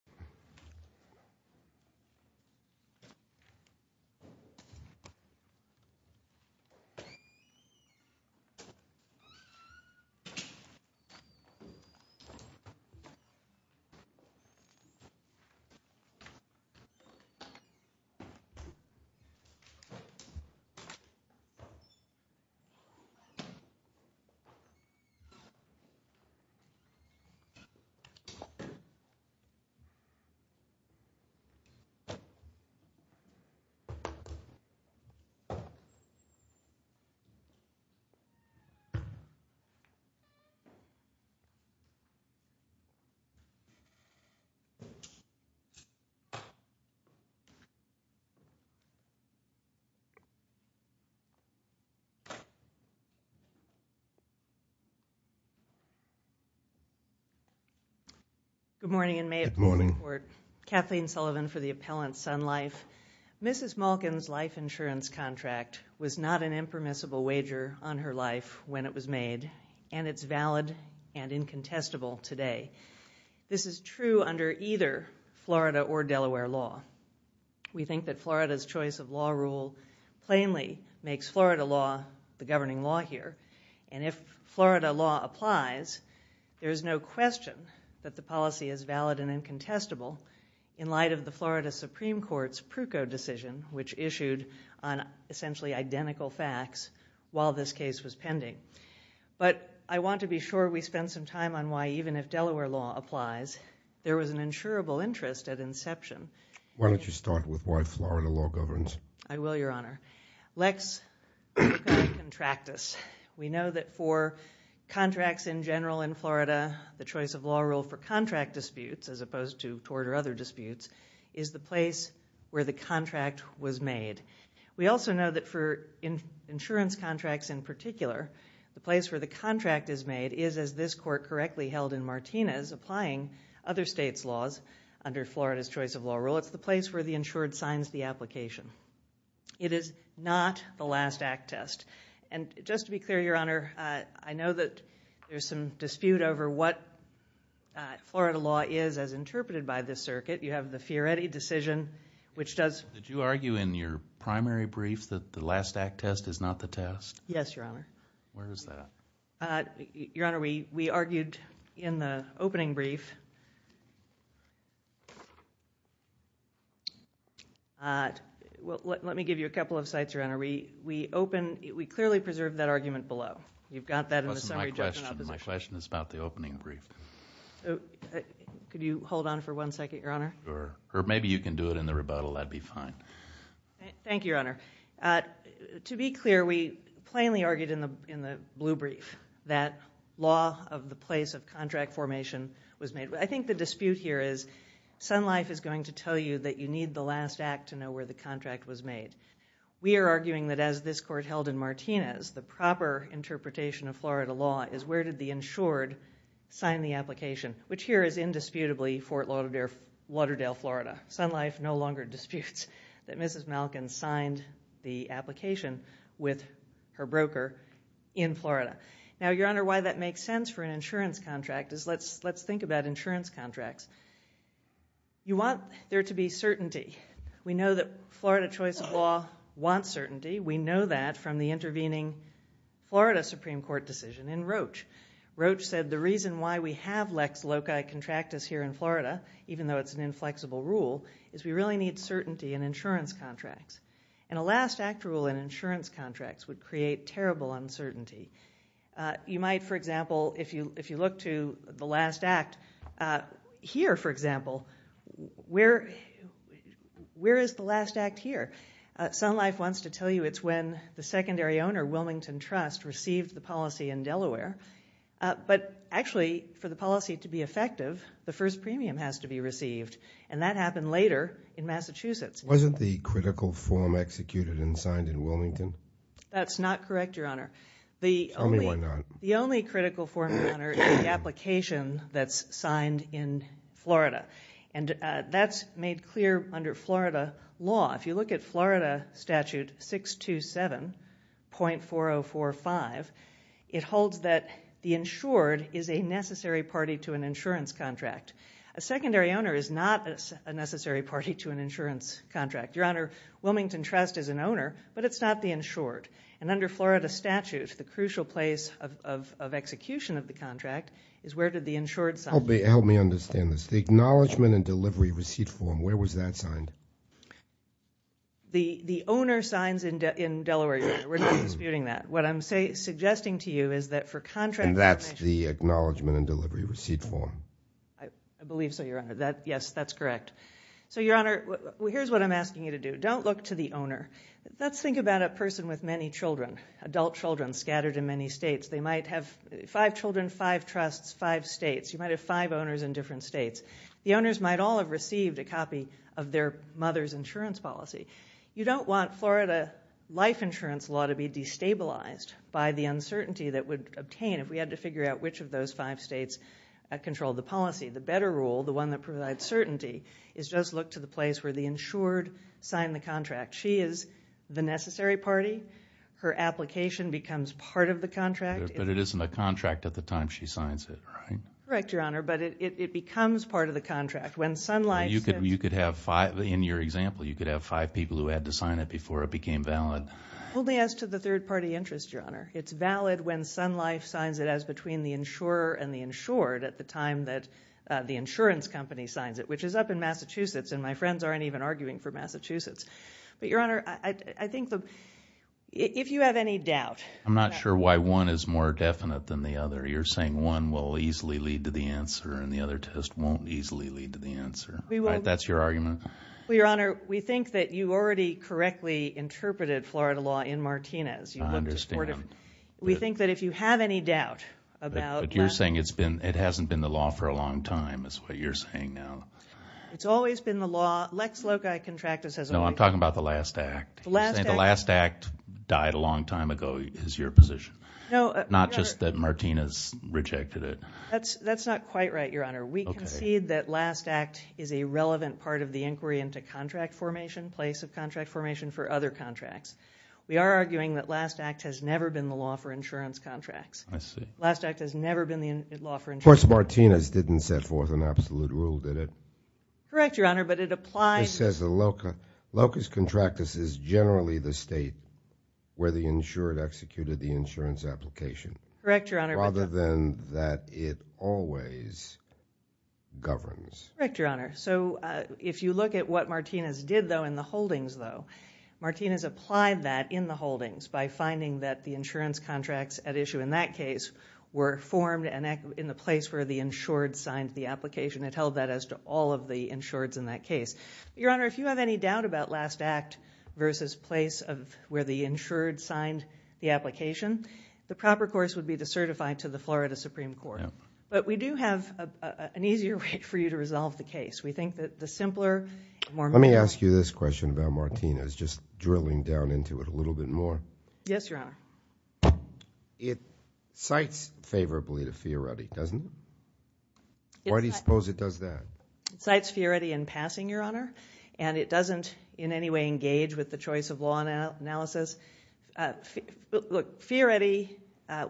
v. U.S. Bank of Canada, Appellant, and Cross v. U.S. Bank of Canada, Appellant, and Cross v. U.S. Bank of Canada, Appellant, and Cross v. U.S. Bank of Canada, Appellant, and Cross v. U.S. Bank of Canada, Appellant, and Cross v. U.S. Bank of Canada, Appellant. In light of the Florida Supreme Court's Prucco decision, which issued on essentially identical facts while this case was pending. But I want to be sure we spend some time on why even if Delaware law applies, there was an insurable interest at inception. Why don't you start with why Florida law governs? I will, Your Honor. Lex Prucco Contractus. We know that for contracts in general in Florida, the choice of law rule for contract disputes, as opposed to tort or other disputes, is the place where the contract was made. We also know that for insurance contracts in particular, the place where the contract is made is, as this court correctly held in Martinez, applying other states' laws under Florida's choice of law rule. It's the place where the insured signs the application. It is not the last act test. Just to be clear, Your Honor, I know that there's some dispute over what Florida law is as interpreted by this circuit. You have the Fioretti decision, which does... Did you argue in your primary brief that the last act test is not the test? Yes, Your Honor. Where is that? Your Honor, we argued in the opening brief. Let me give you a couple of sites, Your Honor. We clearly preserved that argument below. You've got that in the summary judgment of the decision. Listen, my question is about the opening brief. Could you hold on for one second, Your Honor? Sure. Or maybe you can do it in the rebuttal. That'd be fine. Thank you, Your Honor. To be clear, we plainly argued in the blue brief that law of the place of contract formation was made. I think the dispute here is Sun Life is going to tell you that you need the last act to know where the contract was made. We are arguing that as this court held in Martinez, the proper interpretation of Florida law is where did the insured sign the application, which here is indisputably Fort Lauderdale, Florida. Sun Life no longer disputes that Mrs. Malkin signed the application with her broker in Florida. Now, Your Honor, why that makes sense for an insurance contract is let's think about insurance contracts. You want there to be certainty. We know that Florida choice of law wants certainty. We know that from the intervening Florida Supreme Court decision in Roach. Roach said the reason why we have Lex Loci contract us here in Florida, even though it's an inflexible rule, is we really need certainty in insurance contracts. And a last act rule in insurance contracts would create terrible uncertainty. You might, for example, if you look to the last act here, for example, where is the last act here? Sun Life wants to tell you it's when the secondary owner, Wilmington Trust, received the policy in Delaware. But actually, for the policy to be effective, the first premium has to be received. And that happened later in Massachusetts. Wasn't the critical form executed and signed in Wilmington? That's not correct, Your Honor. Tell me why not. The only critical form, Your Honor, is the application that's signed in Florida. And that's made clear under Florida law. If you look at Florida statute 627.4045, it holds that the insured is a necessary party to an insurance contract. A secondary owner is not a necessary party to an insurance contract. Your Honor, Wilmington Trust is an owner, but it's not the insured. And under Florida statute, the crucial place of execution of the contract is where did the insured sign? Help me understand this. The acknowledgment and delivery receipt form, where was that signed? The owner signs in Delaware, Your Honor. We're not disputing that. What I'm suggesting to you is that for contracts... And that's the acknowledgment and delivery receipt form. I believe so, Your Honor. Yes, that's correct. So, Your Honor, here's what I'm asking you to do. Don't look to the owner. Let's think about a person with many children, adult children scattered in many states. They might have five children, five trusts, five states. You might have five owners in different states. The owners might all have received a copy of their mother's insurance policy. You don't want Florida life insurance law to be destabilized by the uncertainty that would obtain if we had to figure out which of those five states controlled the policy. The better rule, the one that provides certainty, is just look to the place where the insured signed the contract. She is the necessary party. Her application becomes part of the contract. But it isn't a contract at the time she signs it, right? Correct, Your Honor, but it becomes part of the contract. When Sun Life... You could have five, in your example, you could have five people who had to sign it before it became valid. Only as to the third party interest, Your Honor. It's valid when Sun Life signs it as between the insurer and the insured at the time that the insurance company signs it, which is up in Massachusetts, and my friends aren't even arguing for Massachusetts. Your Honor, I think that if you have any doubt... I'm not sure why one is more definite than the other. You're saying one will easily lead to the answer and the other test won't easily lead to the answer. That's your argument? Your Honor, we think that you already correctly interpreted Florida law in Martinez. I understand. We think that if you have any doubt about... But you're saying it hasn't been the law for a long time, is what you're saying now. It's always been the law. Lex loci contractus has always... I'm talking about the last act. The last act died a long time ago, is your position. Not just that Martinez rejected it. That's not quite right, Your Honor. We concede that last act is a relevant part of the inquiry into contract formation, place of contract formation for other contracts. We are arguing that last act has never been the law for insurance contracts. I see. Last act has never been the law for insurance contracts. Of course, Martinez didn't set forth an absolute rule, did it? Correct, Your Honor, but it applies... Martinez says the locus contractus is generally the state where the insured executed the insurance application. Correct, Your Honor. Rather than that it always governs. Correct, Your Honor. So if you look at what Martinez did, though, in the holdings, though, Martinez applied that in the holdings by finding that the insurance contracts at issue in that case were formed in the place where the insured signed the application. It held that as to all of the insureds in that case. Your Honor, if you have any doubt about last act versus place of where the insured signed the application, the proper course would be to certify to the Florida Supreme Court. But we do have an easier way for you to resolve the case. We think that the simpler, the more... Let me ask you this question about Martinez, just drilling down into it a little bit more. Yes, Your Honor. It cites favorably to Fioretti, doesn't it? Why do you suppose it does that? It cites Fioretti in passing, Your Honor. And it doesn't in any way engage with the choice of law analysis. Look, Fioretti,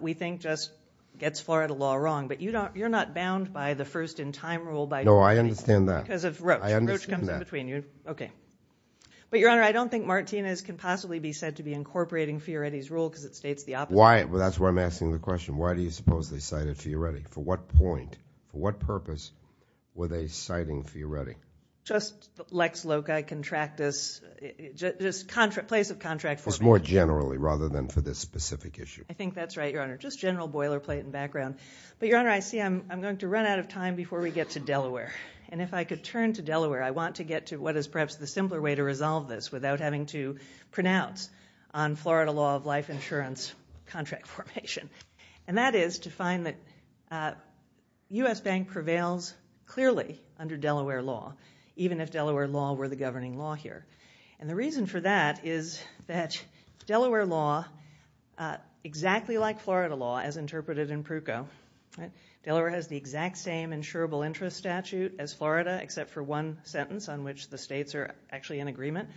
we think, just gets Florida law wrong. But you're not bound by the first in time rule by... No, I understand that. Because of Roach. Roach comes in between you. Okay. But Your Honor, I don't think Martinez can possibly be said to be incorporating Fioretti's rule because it states the opposite. Why? That's why I'm asking the question. Why do you suppose they cited Fioretti? For what point? For what purpose were they citing Fioretti? Just lex loci, contractus, just place of contract formation. Just more generally rather than for this specific issue. I think that's right, Your Honor. Just general boilerplate and background. But Your Honor, I see I'm going to run out of time before we get to Delaware. And if I could turn to Delaware, I want to get to what is perhaps the simpler way to resolve this without having to pronounce on Florida law of life insurance contract formation. And that is to find that U.S. Bank prevails clearly under Delaware law, even if Delaware law were the governing law here. And the reason for that is that Delaware law, exactly like Florida law as interpreted in Pruko, right? Delaware has the exact same insurable interest statute as Florida except for one sentence on which the states are actually in agreement.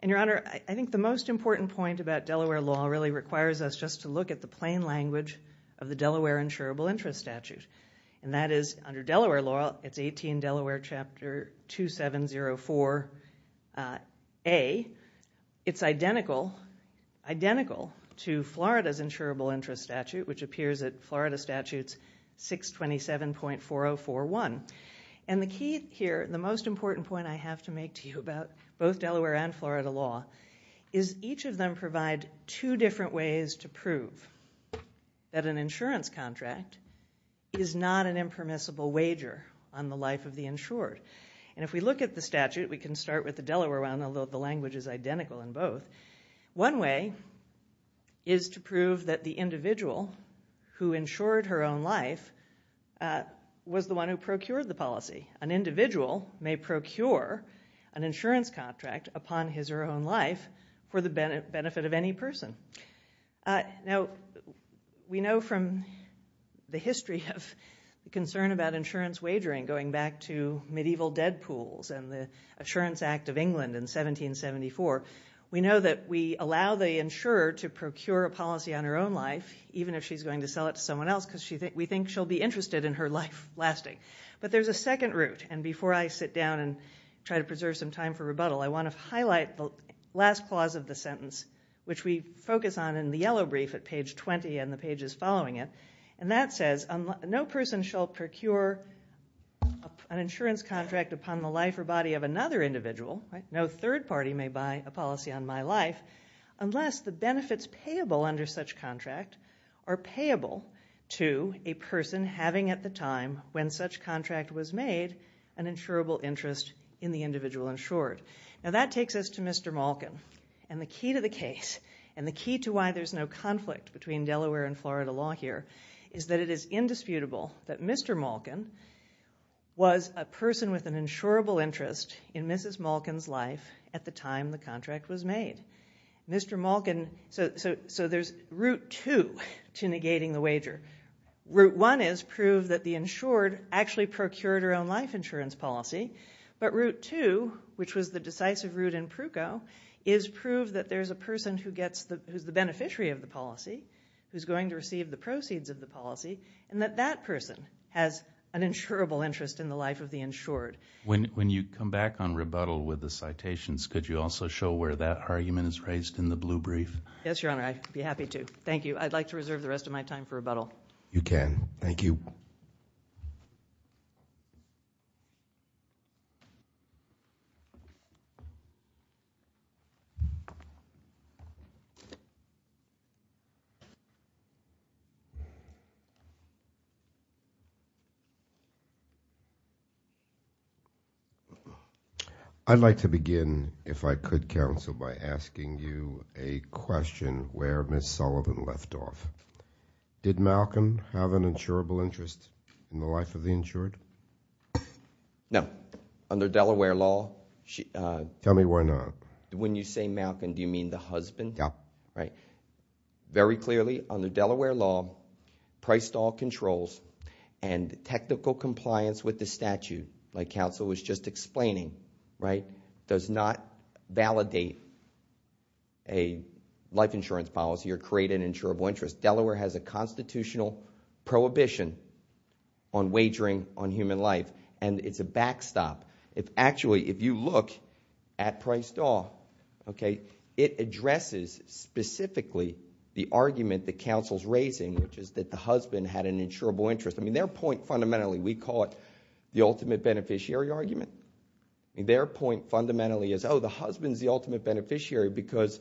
And Your Honor, I think the most important point about Delaware law really requires us just to look at the plain language of the Delaware insurable interest statute. And that is under Delaware law, it's 18 Delaware chapter 2704A, it's identical to Florida's insurable interest statute which appears at Florida statutes 627.4041. And the key here, the most important point I have to make to you about both Delaware and Florida law is each of them provide two different ways to prove that an insurance contract is not an impermissible wager on the life of the insured. And if we look at the statute, we can start with the Delaware one, although the language is identical in both. One way is to prove that the individual who insured her own life was the one who procured the policy. An individual may procure an insurance contract upon his or her own life for the benefit of any person. Now, we know from the history of concern about insurance wagering going back to medieval dead pools and the Assurance Act of England in 1774, we know that we allow the insurer to procure a policy on her own life even if she's going to sell it to someone else because we think she'll be interested in her life lasting. But there's a second route. And before I sit down and try to preserve some time for rebuttal, I want to highlight the last clause of the sentence, which we focus on in the yellow brief at page 20 and the pages following it. And that says, no person shall procure an insurance contract upon the life or body of another individual. No third party may buy a policy on my life unless the benefits payable under such contract are payable to a person having at the time when such contract was made an insurable interest in the individual insured. Now, that takes us to Mr. Malkin. And the key to the case and the key to why there's no conflict between Delaware and Florida law here is that it is indisputable that Mr. Malkin was a person with an insurable interest in Mrs. Malkin's life at the time the contract was made. Mr. Malkin, so there's route two to negating the wager. Route one is prove that the insured actually procured her own life insurance policy. But route two, which was the decisive route in Pruko, is prove that there's a person who gets the, who's the beneficiary of the policy, who's going to receive the proceeds of the policy, and that that person has an insurable interest in the life of the insured. When you come back on rebuttal with the citations, could you also show where that argument is raised in the blue brief? Yes, your honor. I'd be happy to. Thank you. I'd like to reserve the rest of my time for rebuttal. You can. Thank you. I'd like to begin, if I could, counsel, by asking you a question where Miss Sullivan left off. Did Malkin have an insurable interest in the life of the insured? No. Under Delaware law, she- Tell me why not. When you say Malkin, do you mean the husband? Yeah. Right. Very clearly, under Delaware law, price stall controls and technical compliance with the was just explaining, right, does not validate a life insurance policy or create an insurable interest. Delaware has a constitutional prohibition on wagering on human life, and it's a backstop. Actually, if you look at price stall, okay, it addresses specifically the argument that counsel's raising, which is that the husband had an insurable interest. Their point fundamentally, we call it the ultimate beneficiary argument. Their point fundamentally is, oh, the husband's the ultimate beneficiary because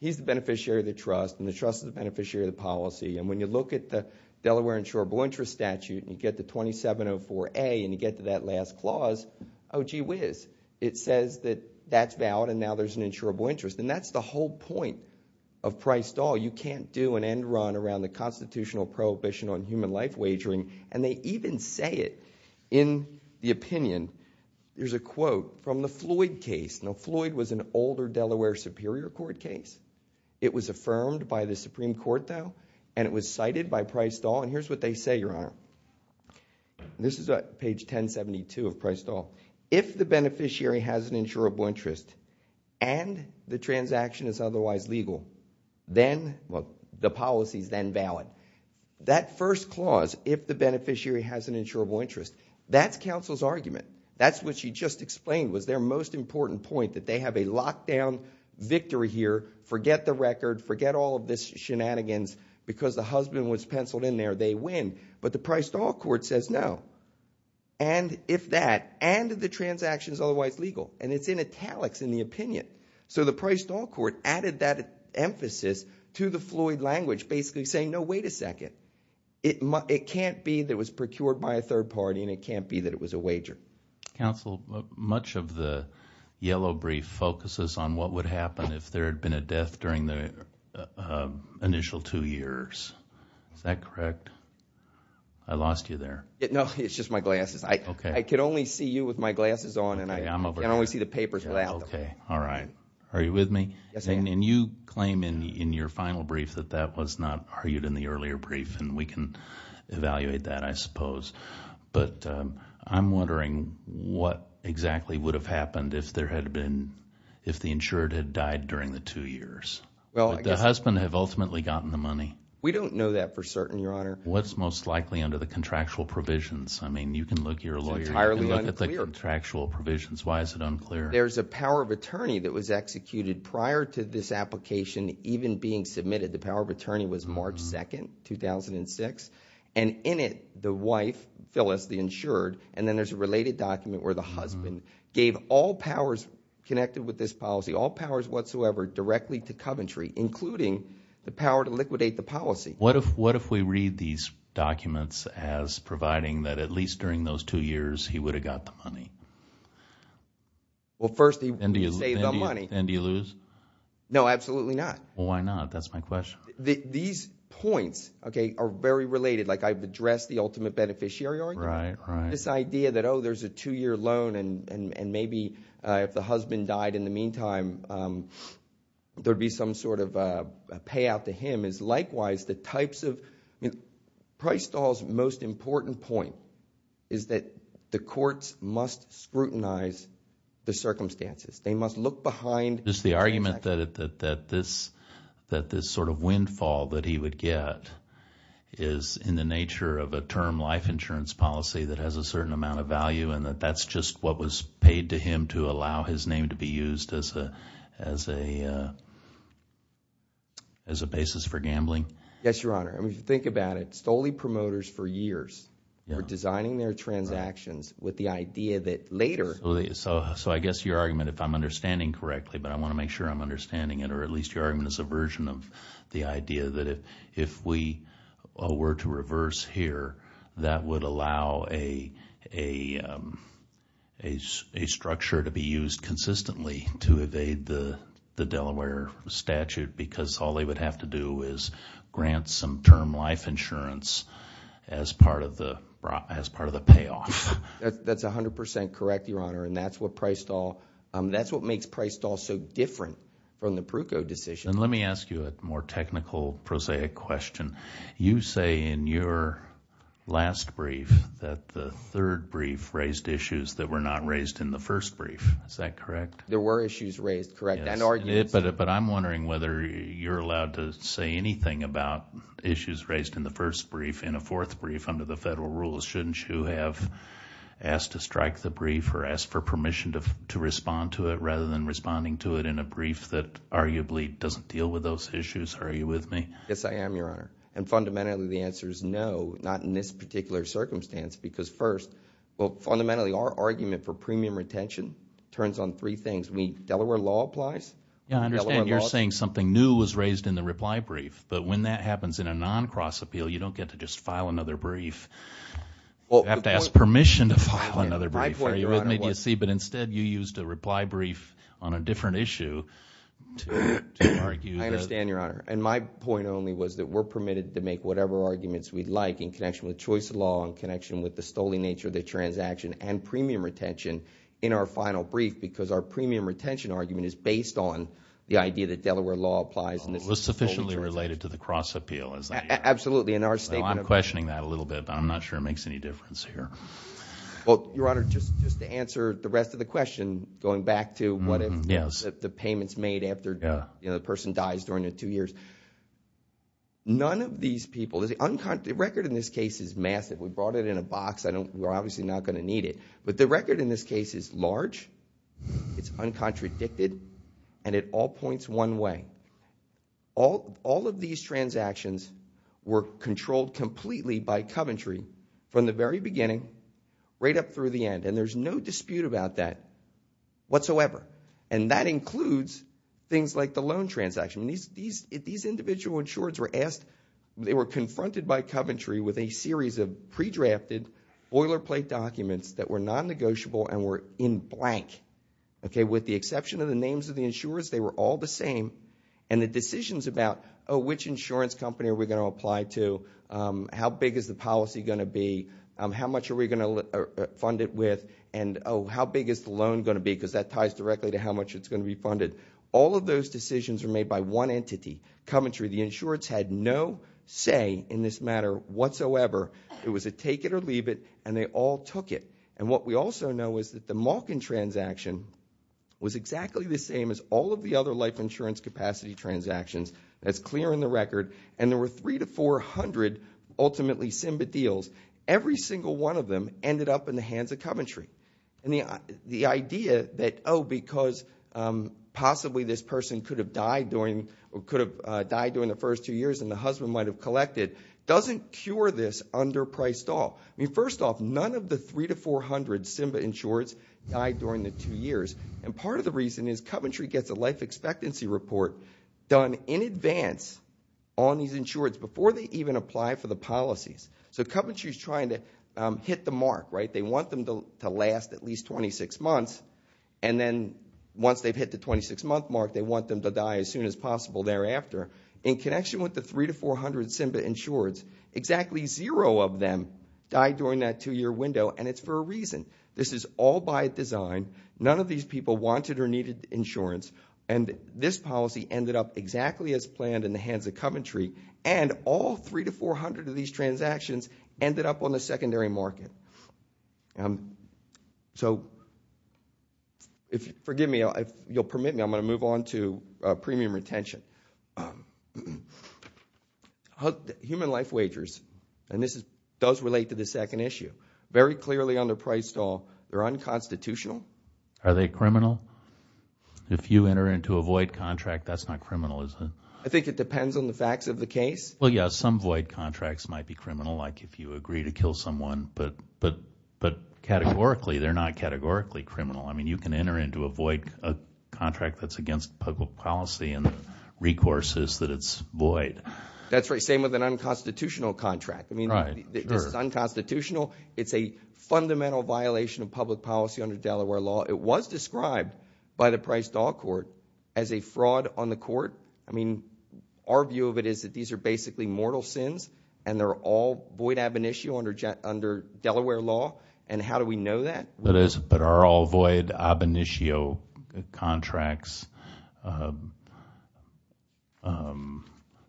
he's the beneficiary of the trust, and the trust is the beneficiary of the policy. When you look at the Delaware insurable interest statute, and you get the 2704A, and you get to that last clause, oh, gee whiz, it says that that's valid, and now there's an insurable interest. That's the whole point of price stall. You can't do an end run around the constitutional prohibition on human life wagering, and they even say it in the opinion. There's a quote from the Floyd case. Now, Floyd was an older Delaware Superior Court case. It was affirmed by the Supreme Court, though, and it was cited by price stall, and here's what they say, Your Honor. This is page 1072 of price stall. If the beneficiary has an insurable interest, and the transaction is otherwise legal, then the policy is then valid. That first clause, if the beneficiary has an insurable interest, that's counsel's argument. That's what she just explained was their most important point, that they have a lockdown victory here. Forget the record. Forget all of this shenanigans because the husband was penciled in there. They win, but the price stall court says no. And if that, and the transaction is otherwise legal, and it's in italics in the opinion, so the price stall court added that emphasis to the Floyd language, basically saying, no, wait a second. It can't be that it was procured by a third party, and it can't be that it was a wager. Counsel, much of the yellow brief focuses on what would happen if there had been a death during the initial two years. Is that correct? I lost you there. No, it's just my glasses. Okay. I could only see you with my glasses on, and I can only see the papers without them. Okay. All right. Are you with me? Yes, I am. And you claim in your final brief that that was not argued in the earlier brief, and we can evaluate that, I suppose. But I'm wondering what exactly would have happened if there had been, if the insured had died during the two years? Well, I guess— Would the husband have ultimately gotten the money? We don't know that for certain, Your Honor. What's most likely under the contractual provisions? I mean, you can look, you're a lawyer. It's entirely unclear. You can look at the contractual provisions. Why is it unclear? There's a power of attorney that was executed prior to this application even being submitted. The power of attorney was March 2nd, 2006. And in it, the wife, Phyllis, the insured, and then there's a related document where the husband gave all powers connected with this policy, all powers whatsoever, directly to Coventry, including the power to liquidate the policy. What if we read these documents as providing that at least during those two years, he would have got the money? Well, first, he would have saved the money. And do you lose? No, absolutely not. Why not? That's my question. These points, okay, are very related. Like, I've addressed the ultimate beneficiary argument. Right, right. This idea that, oh, there's a two-year loan, and maybe if the husband died in the meantime, there'd be some sort of payout to him is likewise the types of, I mean, Price et al.'s most important point is that the courts must scrutinize the circumstances. They must look behind. Just the argument that this sort of windfall that he would get is in the nature of a term life insurance policy that has a certain amount of value, and that that's just what was paid to him to allow his name to be used as a basis for gambling. Yes, Your Honor. I mean, if you think about it, Stoley Promoters for years were designing their transactions with the idea that later... So I guess your argument, if I'm understanding correctly, but I want to make sure I'm understanding it, or at least your argument is a version of the idea that if we were to to be used consistently to evade the Delaware statute because all they would have to do is grant some term life insurance as part of the payoff. That's 100 percent correct, Your Honor, and that's what makes Price et al. so different from the Pruko decision. And let me ask you a more technical, prosaic question. You say in your last brief that the third brief raised issues that were not raised in the first brief. Is that correct? There were issues raised, correct, and arguments. But I'm wondering whether you're allowed to say anything about issues raised in the first brief in a fourth brief under the federal rules. Shouldn't you have asked to strike the brief or asked for permission to respond to it rather than responding to it in a brief that arguably doesn't deal with those issues? Are you with me? Yes, I am, Your Honor, and fundamentally the answer is no, not in this particular circumstance because first, well, fundamentally our argument for premium retention turns on three things. Delaware law applies. Yeah, I understand you're saying something new was raised in the reply brief, but when that happens in a non-cross appeal, you don't get to just file another brief. You have to ask permission to file another brief. Are you with me, do you see? But instead, you used a reply brief on a different issue to argue that— I understand, Your Honor, and my point only was that we're permitted to make whatever arguments we'd like in connection with the choice of law, in connection with the stolen nature of the transaction, and premium retention in our final brief because our premium retention argument is based on the idea that Delaware law applies and this is a stolen transaction. It was sufficiently related to the cross appeal, is that it? Absolutely, in our statement— I'm questioning that a little bit, but I'm not sure it makes any difference here. Well, Your Honor, just to answer the rest of the question, going back to what the payments made after the person dies during the two years, the record in this case is massive. We brought it in a box, we're obviously not going to need it, but the record in this case is large, it's uncontradicted, and it all points one way. All of these transactions were controlled completely by Coventry from the very beginning, right up through the end, and there's no dispute about that whatsoever. That includes things like the loan transaction. These individual insurers were confronted by Coventry with a series of pre-drafted boilerplate documents that were non-negotiable and were in blank. With the exception of the names of the insurers, they were all the same, and the decisions about which insurance company are we going to apply to, how big is the policy going to be, how much are we going to fund it with, oh, how big is the loan going to be, because that ties directly to how much it's going to be funded. All of those decisions were made by one entity, Coventry. The insurers had no say in this matter whatsoever. It was a take it or leave it, and they all took it, and what we also know is that the Malkin transaction was exactly the same as all of the other life insurance capacity transactions. That's clear in the record, and there were 300 to 400 ultimately SIMBA deals. Every single one of them ended up in the hands of Coventry. The idea that, oh, because possibly this person could have died during the first two years and the husband might have collected doesn't cure this under priced off. First off, none of the 300 to 400 SIMBA insurers died during the two years, and part of the reason is Coventry gets a life expectancy report done in advance on these insurers before they even apply for the policies. Coventry's trying to hit the mark. They want them to last at least 26 months, and then once they've hit the 26-month mark, they want them to die as soon as possible thereafter. In connection with the 300 to 400 SIMBA insurers, exactly zero of them died during that two-year window, and it's for a reason. This is all by design. None of these people wanted or needed insurance, and this policy ended up exactly as planned in hands of Coventry, and all 300 to 400 of these transactions ended up on the secondary market. So forgive me. You'll permit me. I'm going to move on to premium retention. Human life wagers, and this does relate to the second issue, very clearly under priced off. They're unconstitutional. Are they criminal? If you enter into a void contract, that's not criminal, is it? I think it depends on the facts of the case. Well, yeah. Some void contracts might be criminal, like if you agree to kill someone, but categorically, they're not categorically criminal. I mean, you can enter into a void contract that's against public policy, and the recourse is that it's void. That's right. Same with an unconstitutional contract. I mean, this is unconstitutional. It's a fundamental violation of public policy under Delaware law. It was described by the priced off court as a fraud on the court. I mean, our view of it is that these are basically mortal sins, and they're all void ab initio under Delaware law, and how do we know that? That is, but are all void ab initio contracts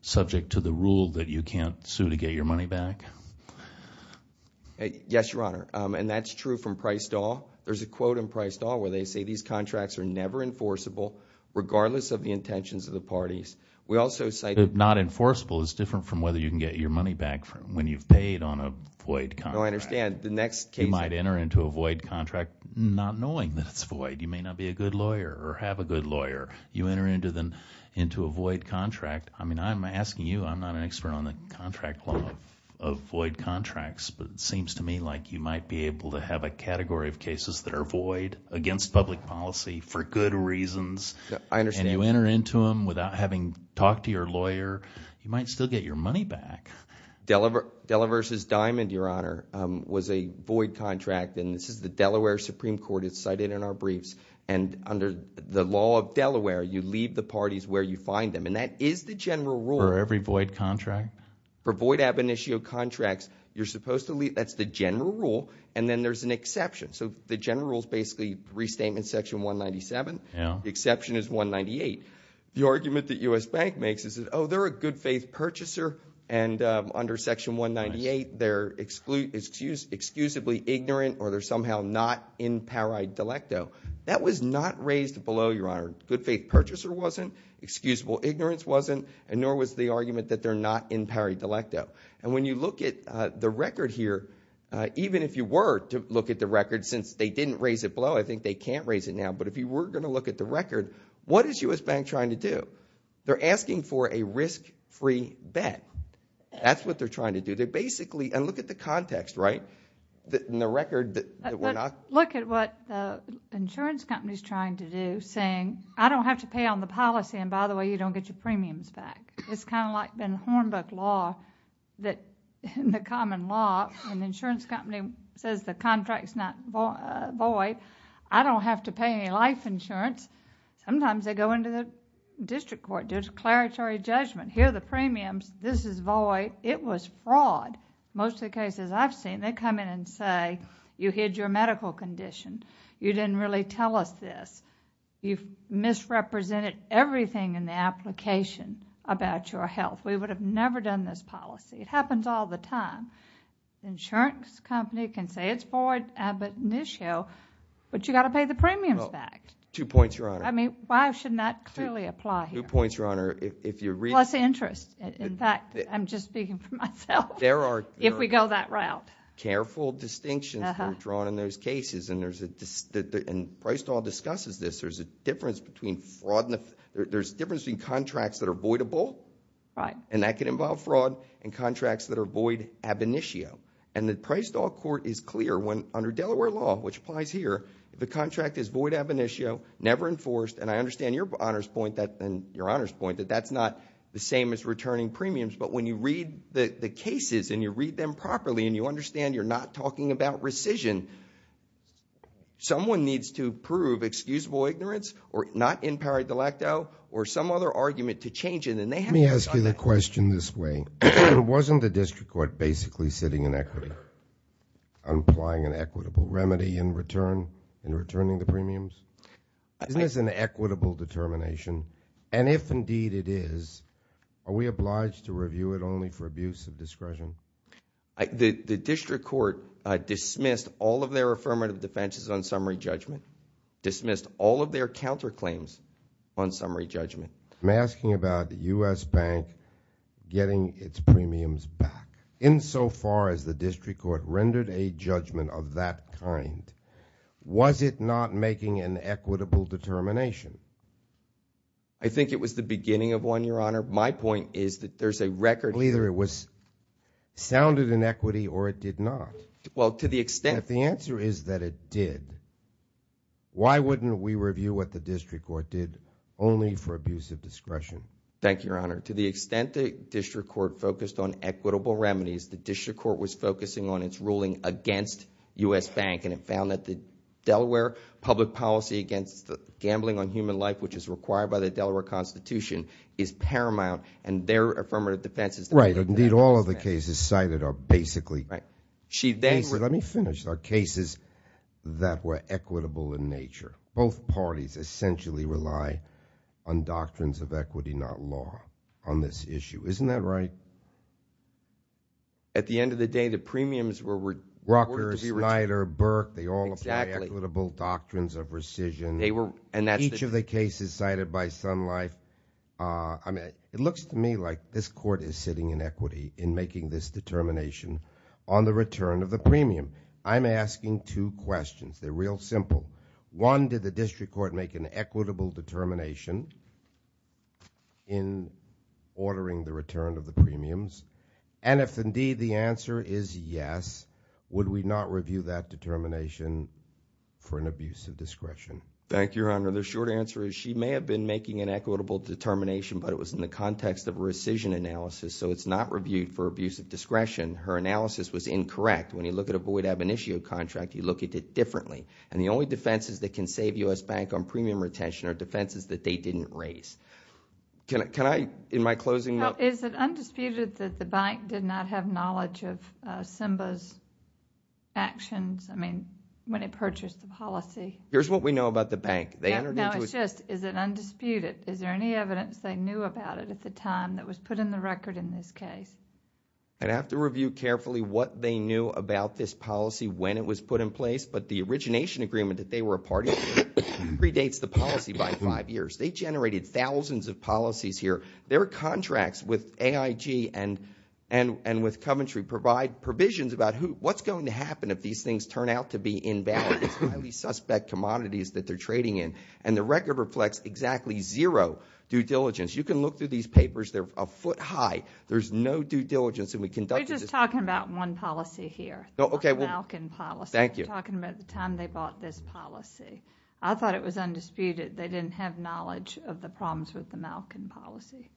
subject to the rule that you can't sue to get your money back? Yes, Your Honor, and that's true from priced off. There's a quote in priced off where they say these contracts are never enforceable, regardless of the intentions of the parties. We also cite... Not enforceable is different from whether you can get your money back when you've paid on a void contract. No, I understand. The next case... You might enter into a void contract not knowing that it's void. You may not be a good lawyer or have a good lawyer. You enter into a void contract. I mean, I'm asking you. I'm not an expert on the contract law of void contracts, but it seems to me like you might be able to have a category of cases that are void against public policy for good reasons, and you enter into them without having talked to your lawyer. You might still get your money back. Delaware versus Diamond, Your Honor, was a void contract, and this is the Delaware Supreme Court. It's cited in our briefs, and under the law of Delaware, you leave the parties where you find them, and that is the general rule... For every void contract? For void ab initio contracts, you're supposed to leave... that's the general rule, and then there's an exception. So the general rule is basically Restatement Section 197. Yeah. The exception is 198. The argument that U.S. Bank makes is that, oh, they're a good faith purchaser, and under Section 198, they're excusably ignorant, or they're somehow not in pari delecto. That was not raised below, Your Honor. Good faith purchaser wasn't. Excusable ignorance wasn't, and nor was the argument that they're not in pari delecto, and when you look at the record here, even if you were to look at the record, since they didn't raise it below, I think they can't raise it now, but if you were going to look at the record, what is U.S. Bank trying to do? They're asking for a risk-free bet. That's what they're trying to do. They're basically... and look at the context, right, in the record that we're not... Look at what the insurance company's trying to do, saying, I don't have to pay on the policy, and by the way, you don't get your premiums back. It's kind of like the Hornbook law, that in the common law, when the insurance company says the contract's not void, I don't have to pay any life insurance. Sometimes they go into the district court, do a declaratory judgment. Here are the premiums. This is void. It was fraud. Most of the cases I've seen, they come in and say, you hid your medical condition. You didn't really tell us this. You've misrepresented everything in the application about your health. We would have never done this policy. It happens all the time. The insurance company can say it's void, but you've got to pay the premiums back. Well, two points, Your Honor. I mean, why shouldn't that clearly apply here? Two points, Your Honor, if you're... Plus interest. In fact, I'm just speaking for myself. There are... If we go that route.... careful distinctions are drawn in those cases, and PriceDoll discusses this. There's a difference between contracts that are voidable, and that can involve fraud, and contracts that are void ab initio. The PriceDoll court is clear when, under Delaware law, which applies here, if a contract is void ab initio, never enforced, and I understand your Honor's point, and your Honor's point, that that's not the same as returning premiums, but when you read the cases, and you read them properly, and you understand you're not talking about rescission, someone needs to prove excusable ignorance, or not in pari delacto, or some other argument to change it, and they haven't done that. Let me ask you the question this way. Wasn't the district court basically sitting in equity, and applying an equitable remedy in return, in returning the premiums? Isn't this an equitable determination? And if indeed it is, are we obliged to review it only for abuse of discretion? The district court dismissed all of their affirmative defenses on summary judgment, dismissed all of their counterclaims on summary judgment. I'm asking about the U.S. Bank getting its premiums back. Insofar as the district court rendered a judgment of that kind, was it not making an equitable determination? I think it was the beginning of one, your Honor. My point is that there's a record. Either it sounded in equity, or it did not. Well, to the extent. If the answer is that it did, why wouldn't we review what the district court did only for abuse of discretion? Thank you, your Honor. To the extent the district court focused on equitable remedies, the district court was focusing on its ruling against U.S. Bank, and it found that the Delaware public policy against gambling on human life, which is required by the Delaware Constitution, is paramount, and their affirmative defense is- Right. Indeed, all of the cases cited are basically- Right. She then- Let me finish. There are cases that were equitable in nature. Both parties essentially rely on doctrines of equity, not law on this issue. Isn't that right? At the end of the day, the premiums were- Rucker, Snyder, Burke, they all apply equitable doctrines of rescission. They were, and that's- This is cited by Sun Life. It looks to me like this court is sitting in equity in making this determination on the return of the premium. I'm asking two questions. They're real simple. One, did the district court make an equitable determination in ordering the return of the premiums? And if indeed the answer is yes, Thank you, your Honor. The short answer is she may have been making an equitable determination, but it was in the context of rescission analysis, so it's not reviewed for abuse of discretion. Her analysis was incorrect. When you look at a void ab initio contract, you look at it differently, and the only defenses that can save U.S. Bank on premium retention are defenses that they didn't raise. Can I, in my closing- Well, is it undisputed that the bank did not have knowledge of Simba's actions? I mean, when he purchased the policy. Here's what we know about the bank. Now, it's just, is it undisputed? Is there any evidence they knew about it at the time that was put in the record in this case? I'd have to review carefully what they knew about this policy when it was put in place, but the origination agreement that they were a party to predates the policy by five years. They generated thousands of policies here. Their contracts with AIG and with Coventry provide provisions about what's going to happen if these things turn out to be invalid. Highly suspect commodities that they're trading in, and the record reflects exactly zero due diligence. You can look through these papers. They're a foot high. There's no due diligence, and we conducted this- You're just talking about one policy here, the Malkin policy. Thank you. You're talking about the time they bought this policy. I thought it was undisputed. They didn't have knowledge of the problems with the Malkin policy.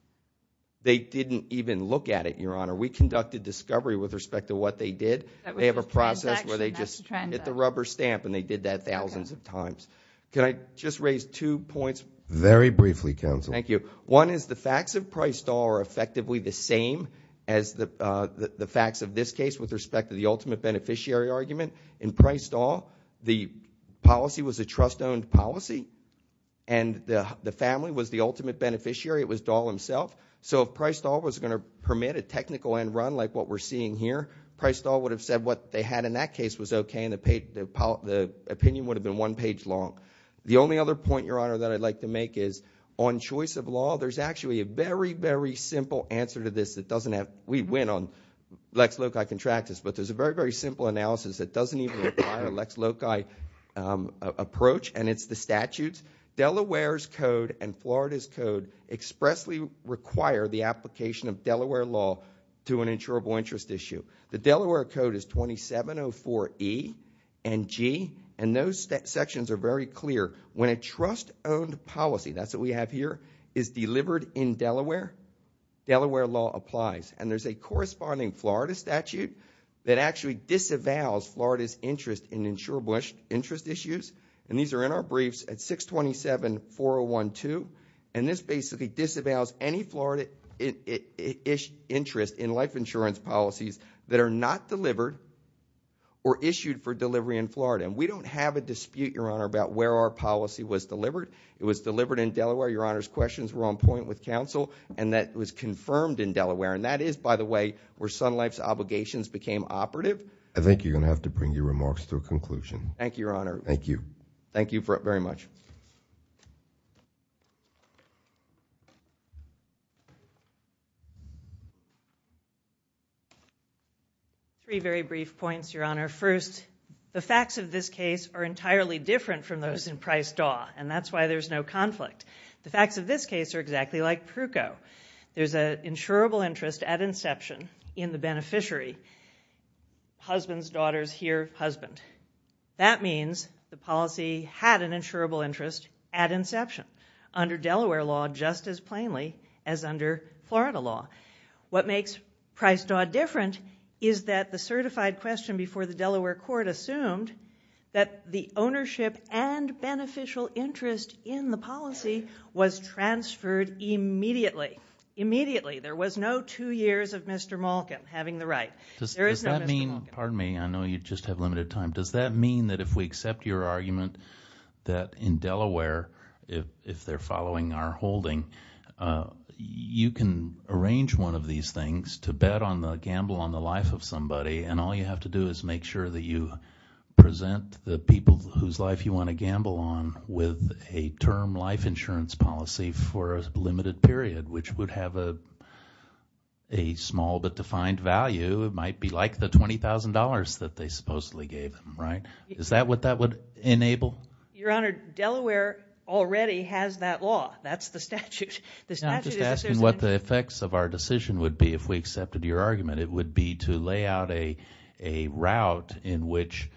They didn't even look at it, Your Honor. We conducted discovery with respect to what they did. They have a process where they just hit the rubber stamp, and they did that thousands of times. Can I just raise two points? Very briefly, counsel. Thank you. One is the facts of Price-Dahl are effectively the same as the facts of this case with respect to the ultimate beneficiary argument. In Price-Dahl, the policy was a trust-owned policy, and the family was the ultimate beneficiary. It was Dahl himself. So if Price-Dahl was going to permit a technical end run like what we're seeing here, Price-Dahl would have said what they had in that case was okay, the opinion would have been one page long. The only other point, Your Honor, that I'd like to make is on choice of law, there's actually a very, very simple answer to this that doesn't have... We went on Lex Loci contractus, but there's a very, very simple analysis that doesn't even require Lex Loci approach, and it's the statutes. Delaware's code and Florida's code expressly require the application of Delaware law to an insurable interest issue. The Delaware code is 2704E and G, and those sections are very clear. When a trust-owned policy, that's what we have here, is delivered in Delaware, Delaware law applies, and there's a corresponding Florida statute that actually disavows Florida's interest in insurable interest issues, and these are in our briefs at 627-4012, and this basically disavows any Florida-ish interest in life insurance policies that are not delivered or issued for delivery in Florida, and we don't have a dispute, Your Honor, about where our policy was delivered. It was delivered in Delaware. Your Honor's questions were on point with counsel, and that was confirmed in Delaware, and that is, by the way, where Sun Life's obligations became operative. I think you're going to have to bring your remarks to a conclusion. Thank you, Your Honor. Thank you. Thank you very much. Three very brief points, Your Honor. First, the facts of this case are entirely different from those in Price-Daw, and that's why there's no conflict. The facts of this case are exactly like Pruko. There's an insurable interest at inception in the beneficiary, husband's daughter's here husband. That means the policy had an insurable interest at inception under Delaware law just as plainly as under Florida law. What makes Price-Daw different is that the certified question before the Delaware court assumed that the ownership and beneficial interest in the policy was transferred immediately. Immediately. There was no two years of Mr. Malkin having the right. Does that mean, pardon me, I know you just have limited time. Does that mean that if we accept your argument that in Delaware, if they're following our holding, you can arrange one of these things to bet on the gamble on the life of somebody, and all you have to do is make sure that you present the people whose life you want to gamble on with a term life insurance policy for a limited period, which would have a small but defined value. It might be like the $20,000 that they supposedly gave them, right? Is that what that would enable? Your Honor, Delaware already has that law. That's the statute. The statute is- I'm just asking what the effects of our decision would be if we accepted your argument. It would be to lay out a route in which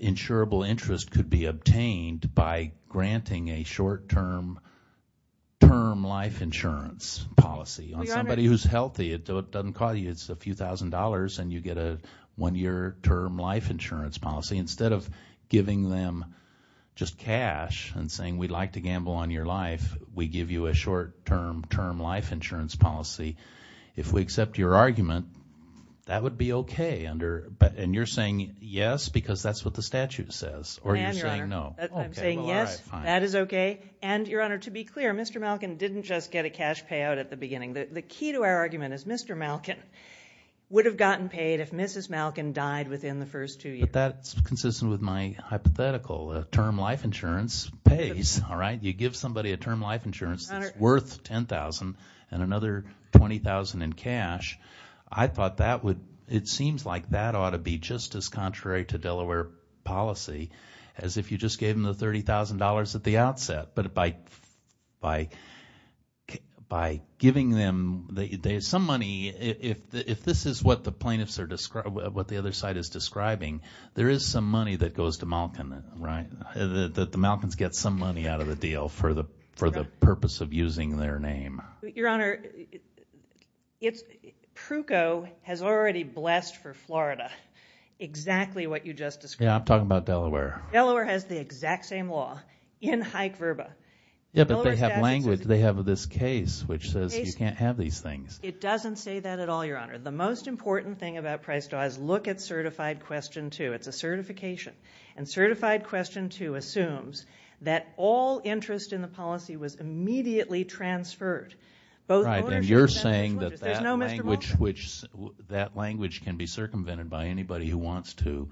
insurable interest could be obtained by granting a short term life insurance policy on somebody who's healthy. It doesn't cost you. It's a few thousand dollars and you get a one year term life insurance policy instead of giving them just cash and saying we'd like to gamble on your life, we give you a short term term life insurance policy. If we accept your argument, that would be okay under- and you're saying yes because that's what the statute says or you're saying no. I'm saying yes, that is okay. And Your Honor, to be clear, Mr. Malkin didn't just get a cash payout at the beginning. The key to our argument is Mr. Malkin would have gotten paid if Mrs. Malkin died within the first two years. But that's consistent with my hypothetical. A term life insurance pays, all right? You give somebody a term life insurance that's worth $10,000 and another $20,000 in cash. I thought that would- it seems like that ought to be just as contrary to Delaware policy as if you just gave them the $30,000 at the outset. But by giving them some money, if this is what the plaintiffs are describing, what the other side is describing, there is some money that goes to Malkin, right? The Malkins get some money out of the deal for the purpose of using their name. Your Honor, it's- Pruko has already blessed for Florida exactly what you just described. Yeah, I'm talking about Delaware. Delaware has the exact same law in Hike-Verba. Yeah, but they have language. They have this case which says you can't have these things. It doesn't say that at all, Your Honor. The most important thing about Price-Dawes, look at Certified Question 2. It's a certification. And Certified Question 2 assumes that all interest in the policy was immediately transferred. Right, and you're saying that language can be circumvented by anybody who wants to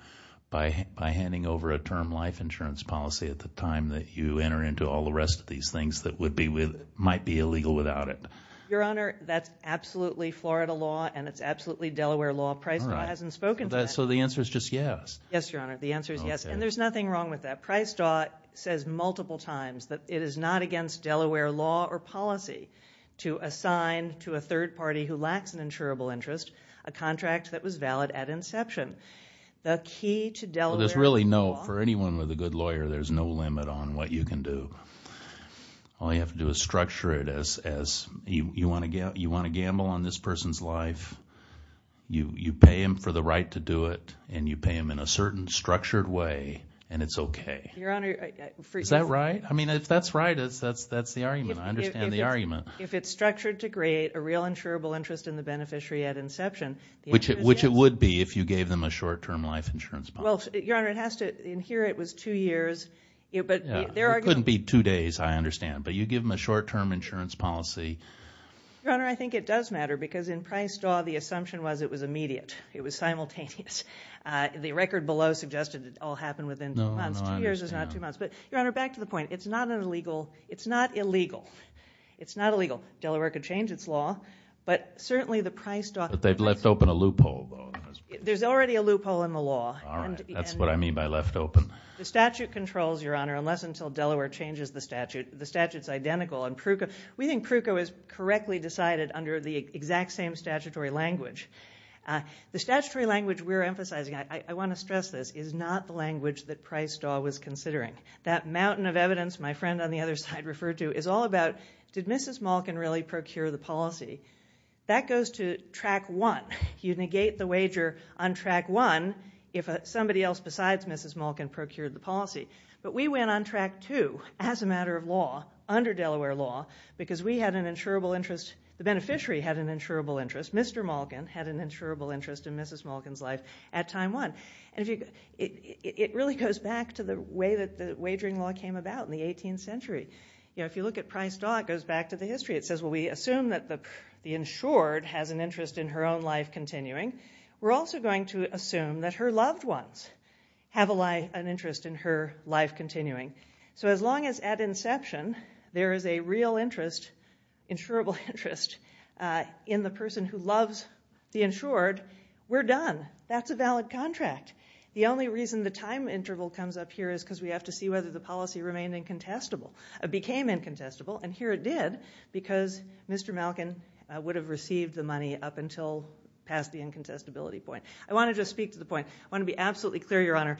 by handing over a term life insurance policy at the time that you enter into all the rest of these things that might be illegal without it. Your Honor, that's absolutely Florida law and it's absolutely Delaware law. Price-Dawes hasn't spoken to that. So the answer is just yes? Yes, Your Honor. The answer is yes. And there's nothing wrong with that. Price-Dawes says multiple times that it is not against Delaware law or policy to assign to a third party who lacks an insurable interest a contract that was valid at inception. The key to Delaware law- There's really no- For anyone with a good lawyer, there's no limit on what you can do. All you have to do is structure it as you want to gamble on this person's life. You pay him for the right to do it and you pay him in a certain structured way and it's okay. Your Honor- Is that right? I mean, if that's right, that's the argument. I understand the argument. If it's structured to create a real insurable interest in the beneficiary at inception- Which it would be if you gave them a short-term life insurance policy. Well, Your Honor, it has to- In here, it was two years, but there are- It couldn't be two days, I understand. But you give them a short-term insurance policy- Your Honor, I think it does matter because in Price-Daw, the assumption was it was immediate. It was simultaneous. The record below suggested it all happened within two months. Two years is not two months. But Your Honor, back to the point. It's not illegal. It's not illegal. It's not illegal. Delaware could change its law, but certainly the Price-Daw- They've left open a loophole, though. There's already a loophole in the law. All right. That's what I mean by left open. The statute controls, Your Honor, unless and until Delaware changes the statute. The statute's identical. We think Pruko is correctly decided under the exact same statutory language. The statutory language we're emphasizing- I want to stress this- is not the language that Price-Daw was considering. That mountain of evidence my friend on the other side referred to is all about, did Mrs. Malkin really procure the policy? That goes to Track 1. You negate the wager on Track 1 if somebody else besides Mrs. Malkin procured the policy. But we went on Track 2 as a matter of law under Delaware law because we had an insurable interest- the beneficiary had an insurable interest. Mr. Malkin had an insurable interest in Mrs. Malkin's life at Time 1. It really goes back to the way that the wagering law came about in the 18th century. You know, if you look at Price-Daw, it goes back to the history. It says, well, we assume that the insured has an interest in her own life continuing. We're also going to assume that her loved ones have an interest in her life continuing. So as long as at inception there is a real interest, insurable interest, in the person who loves the insured, we're done. That's a valid contract. The only reason the time interval comes up here is because we have to see whether the policy remained incontestable- became incontestable. And here it did because Mr. Malkin would have received the money up until past the incontestability point. I want to just speak to the point. I want to be absolutely clear, Your Honor.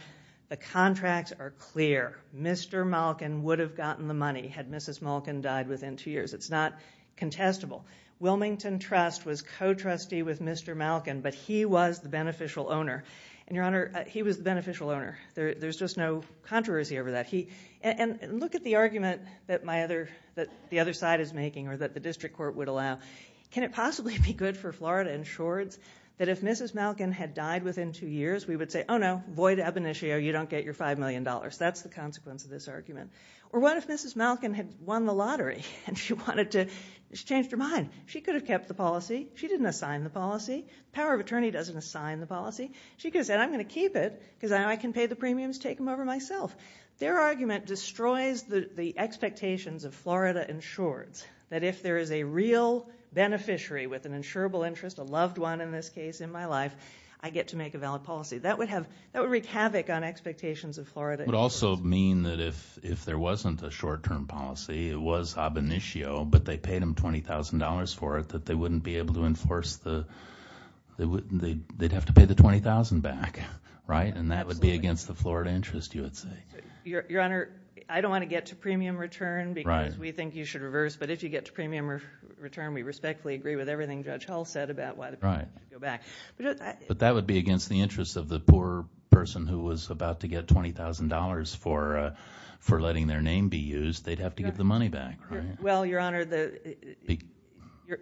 The contracts are clear. Mr. Malkin would have gotten the money had Mrs. Malkin died within two years. It's not contestable. Wilmington Trust was co-trustee with Mr. Malkin, but he was the beneficial owner. And, Your Honor, he was the beneficial owner. There's just no controversy over that. He- and look at the argument that my other- that the other side is making or that the district court would allow. Can it possibly be good for Florida insureds that if Mrs. Malkin had died within two years, we would say, oh no, void ab initio, you don't get your $5 million. That's the consequence of this argument. Or what if Mrs. Malkin had won the lottery and she wanted to- she changed her mind. She could have kept the policy. She didn't assign the policy. Power of attorney doesn't assign the policy. She could have said, I'm going to keep it because now I can pay the premiums, take them over myself. Their argument destroys the expectations of Florida insureds that if there is a real beneficiary with an insurable interest, a loved one in this case, in my life, I get to make a valid policy. That would have- that would wreak havoc on expectations of Florida insureds. It would also mean that if there wasn't a short-term policy, it was ab initio, but they paid them $20,000 for it, that they wouldn't be able to enforce the- they'd have to pay the $20,000 back, right? And that would be against the Florida interest, you would say. Your Honor, I don't want to get to premium return because we think you should reverse, but if you get to premium return, we respectfully agree with everything Judge Hull said about why the premium should go back. But that would be against the interest of the poor person who was about to get $20,000 for letting their name be used, they'd have to give the money back, right? Well, Your Honor, the-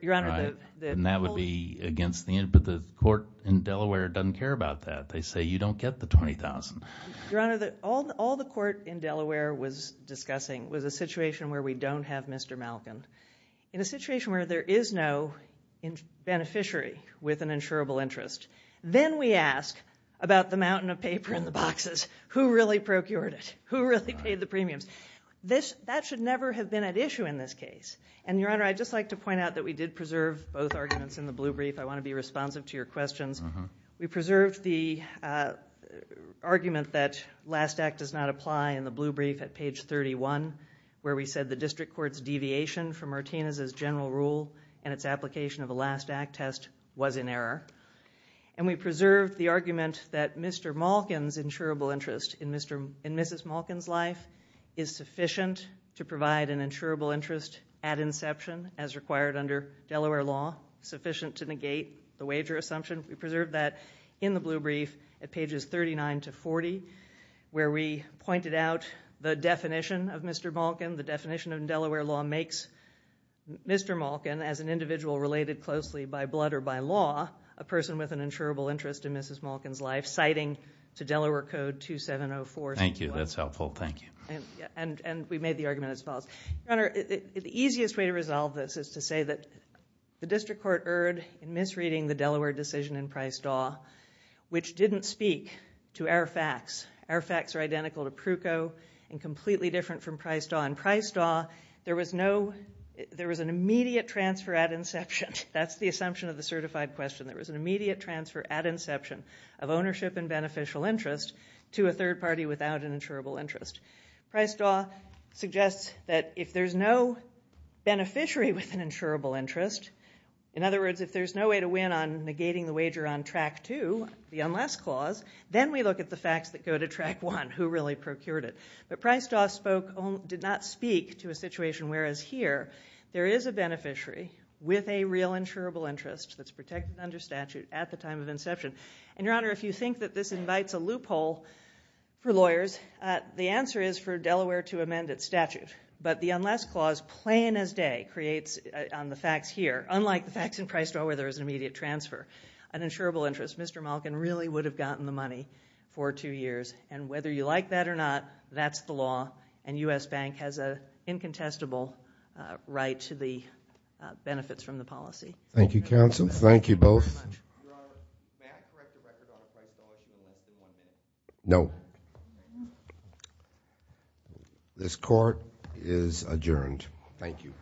Your Honor, the- And that would be against the- but the court in Delaware doesn't care about that. They say, you don't get the $20,000. Your Honor, all the court in Delaware was discussing was a situation where we don't have Mr. Malkin. In a situation where there is no beneficiary with an insurable interest, then we ask about the mountain of paper in the boxes, who really procured it? Who really paid the premiums? That should never have been at issue in this case. And Your Honor, I'd just like to point out that we did preserve both arguments in the blue brief. I want to be responsive to your questions. We preserved the argument that last act does not apply in the blue brief at page 31, where we said the district court's deviation from Martinez's general rule and its application of the last act test was in error. And we preserved the argument that Mr. Malkin's insurable interest in Mrs. Malkin's life is sufficient to provide an insurable interest at inception as required under Delaware law, sufficient to negate the wager assumption. We preserved that in the blue brief at pages 39 to 40, where we pointed out the definition of Mr. Malkin. The definition of Delaware law makes Mr. Malkin as an individual related closely by blood or by law, a person with an insurable interest in Mrs. Malkin's life, citing to Delaware code 2704. Thank you. That's helpful. Thank you. And we made the argument as follows. Your Honor, the easiest way to resolve this is to say that the district court erred in misreading the Delaware decision in Price-Daw, which didn't speak to Arafax. Arafax are identical to Pruco and completely different from Price-Daw. In Price-Daw, there was an immediate transfer at inception. That's the assumption of the certified question. There was an immediate transfer at inception of ownership and beneficial interest to a third party without an insurable interest. Price-Daw suggests that if there's no beneficiary with an insurable interest, in other words, if there's no way to win on negating the wager on track two, the unless clause, then we look at the facts that go to track one, who really procured it. But Price-Daw did not speak to a situation whereas here, there is a beneficiary with a real insurable interest that's protected under statute at the time of inception. And Your Honor, if you think that this invites a loophole for lawyers, the answer is for Delaware to amend its statute. But the unless clause, plain as day, creates on the facts here, unlike the facts in Price-Daw where there was an immediate transfer, an insurable interest. Mr. Malkin really would have gotten the money for two years. And whether you like that or not, that's the law. And U.S. Bank has an incontestable right to the benefits from the policy. Thank you, counsel. Thank you both. Your Honor, may I correct the record on the Price-Daw case for one minute? No. This court is adjourned. Thank you.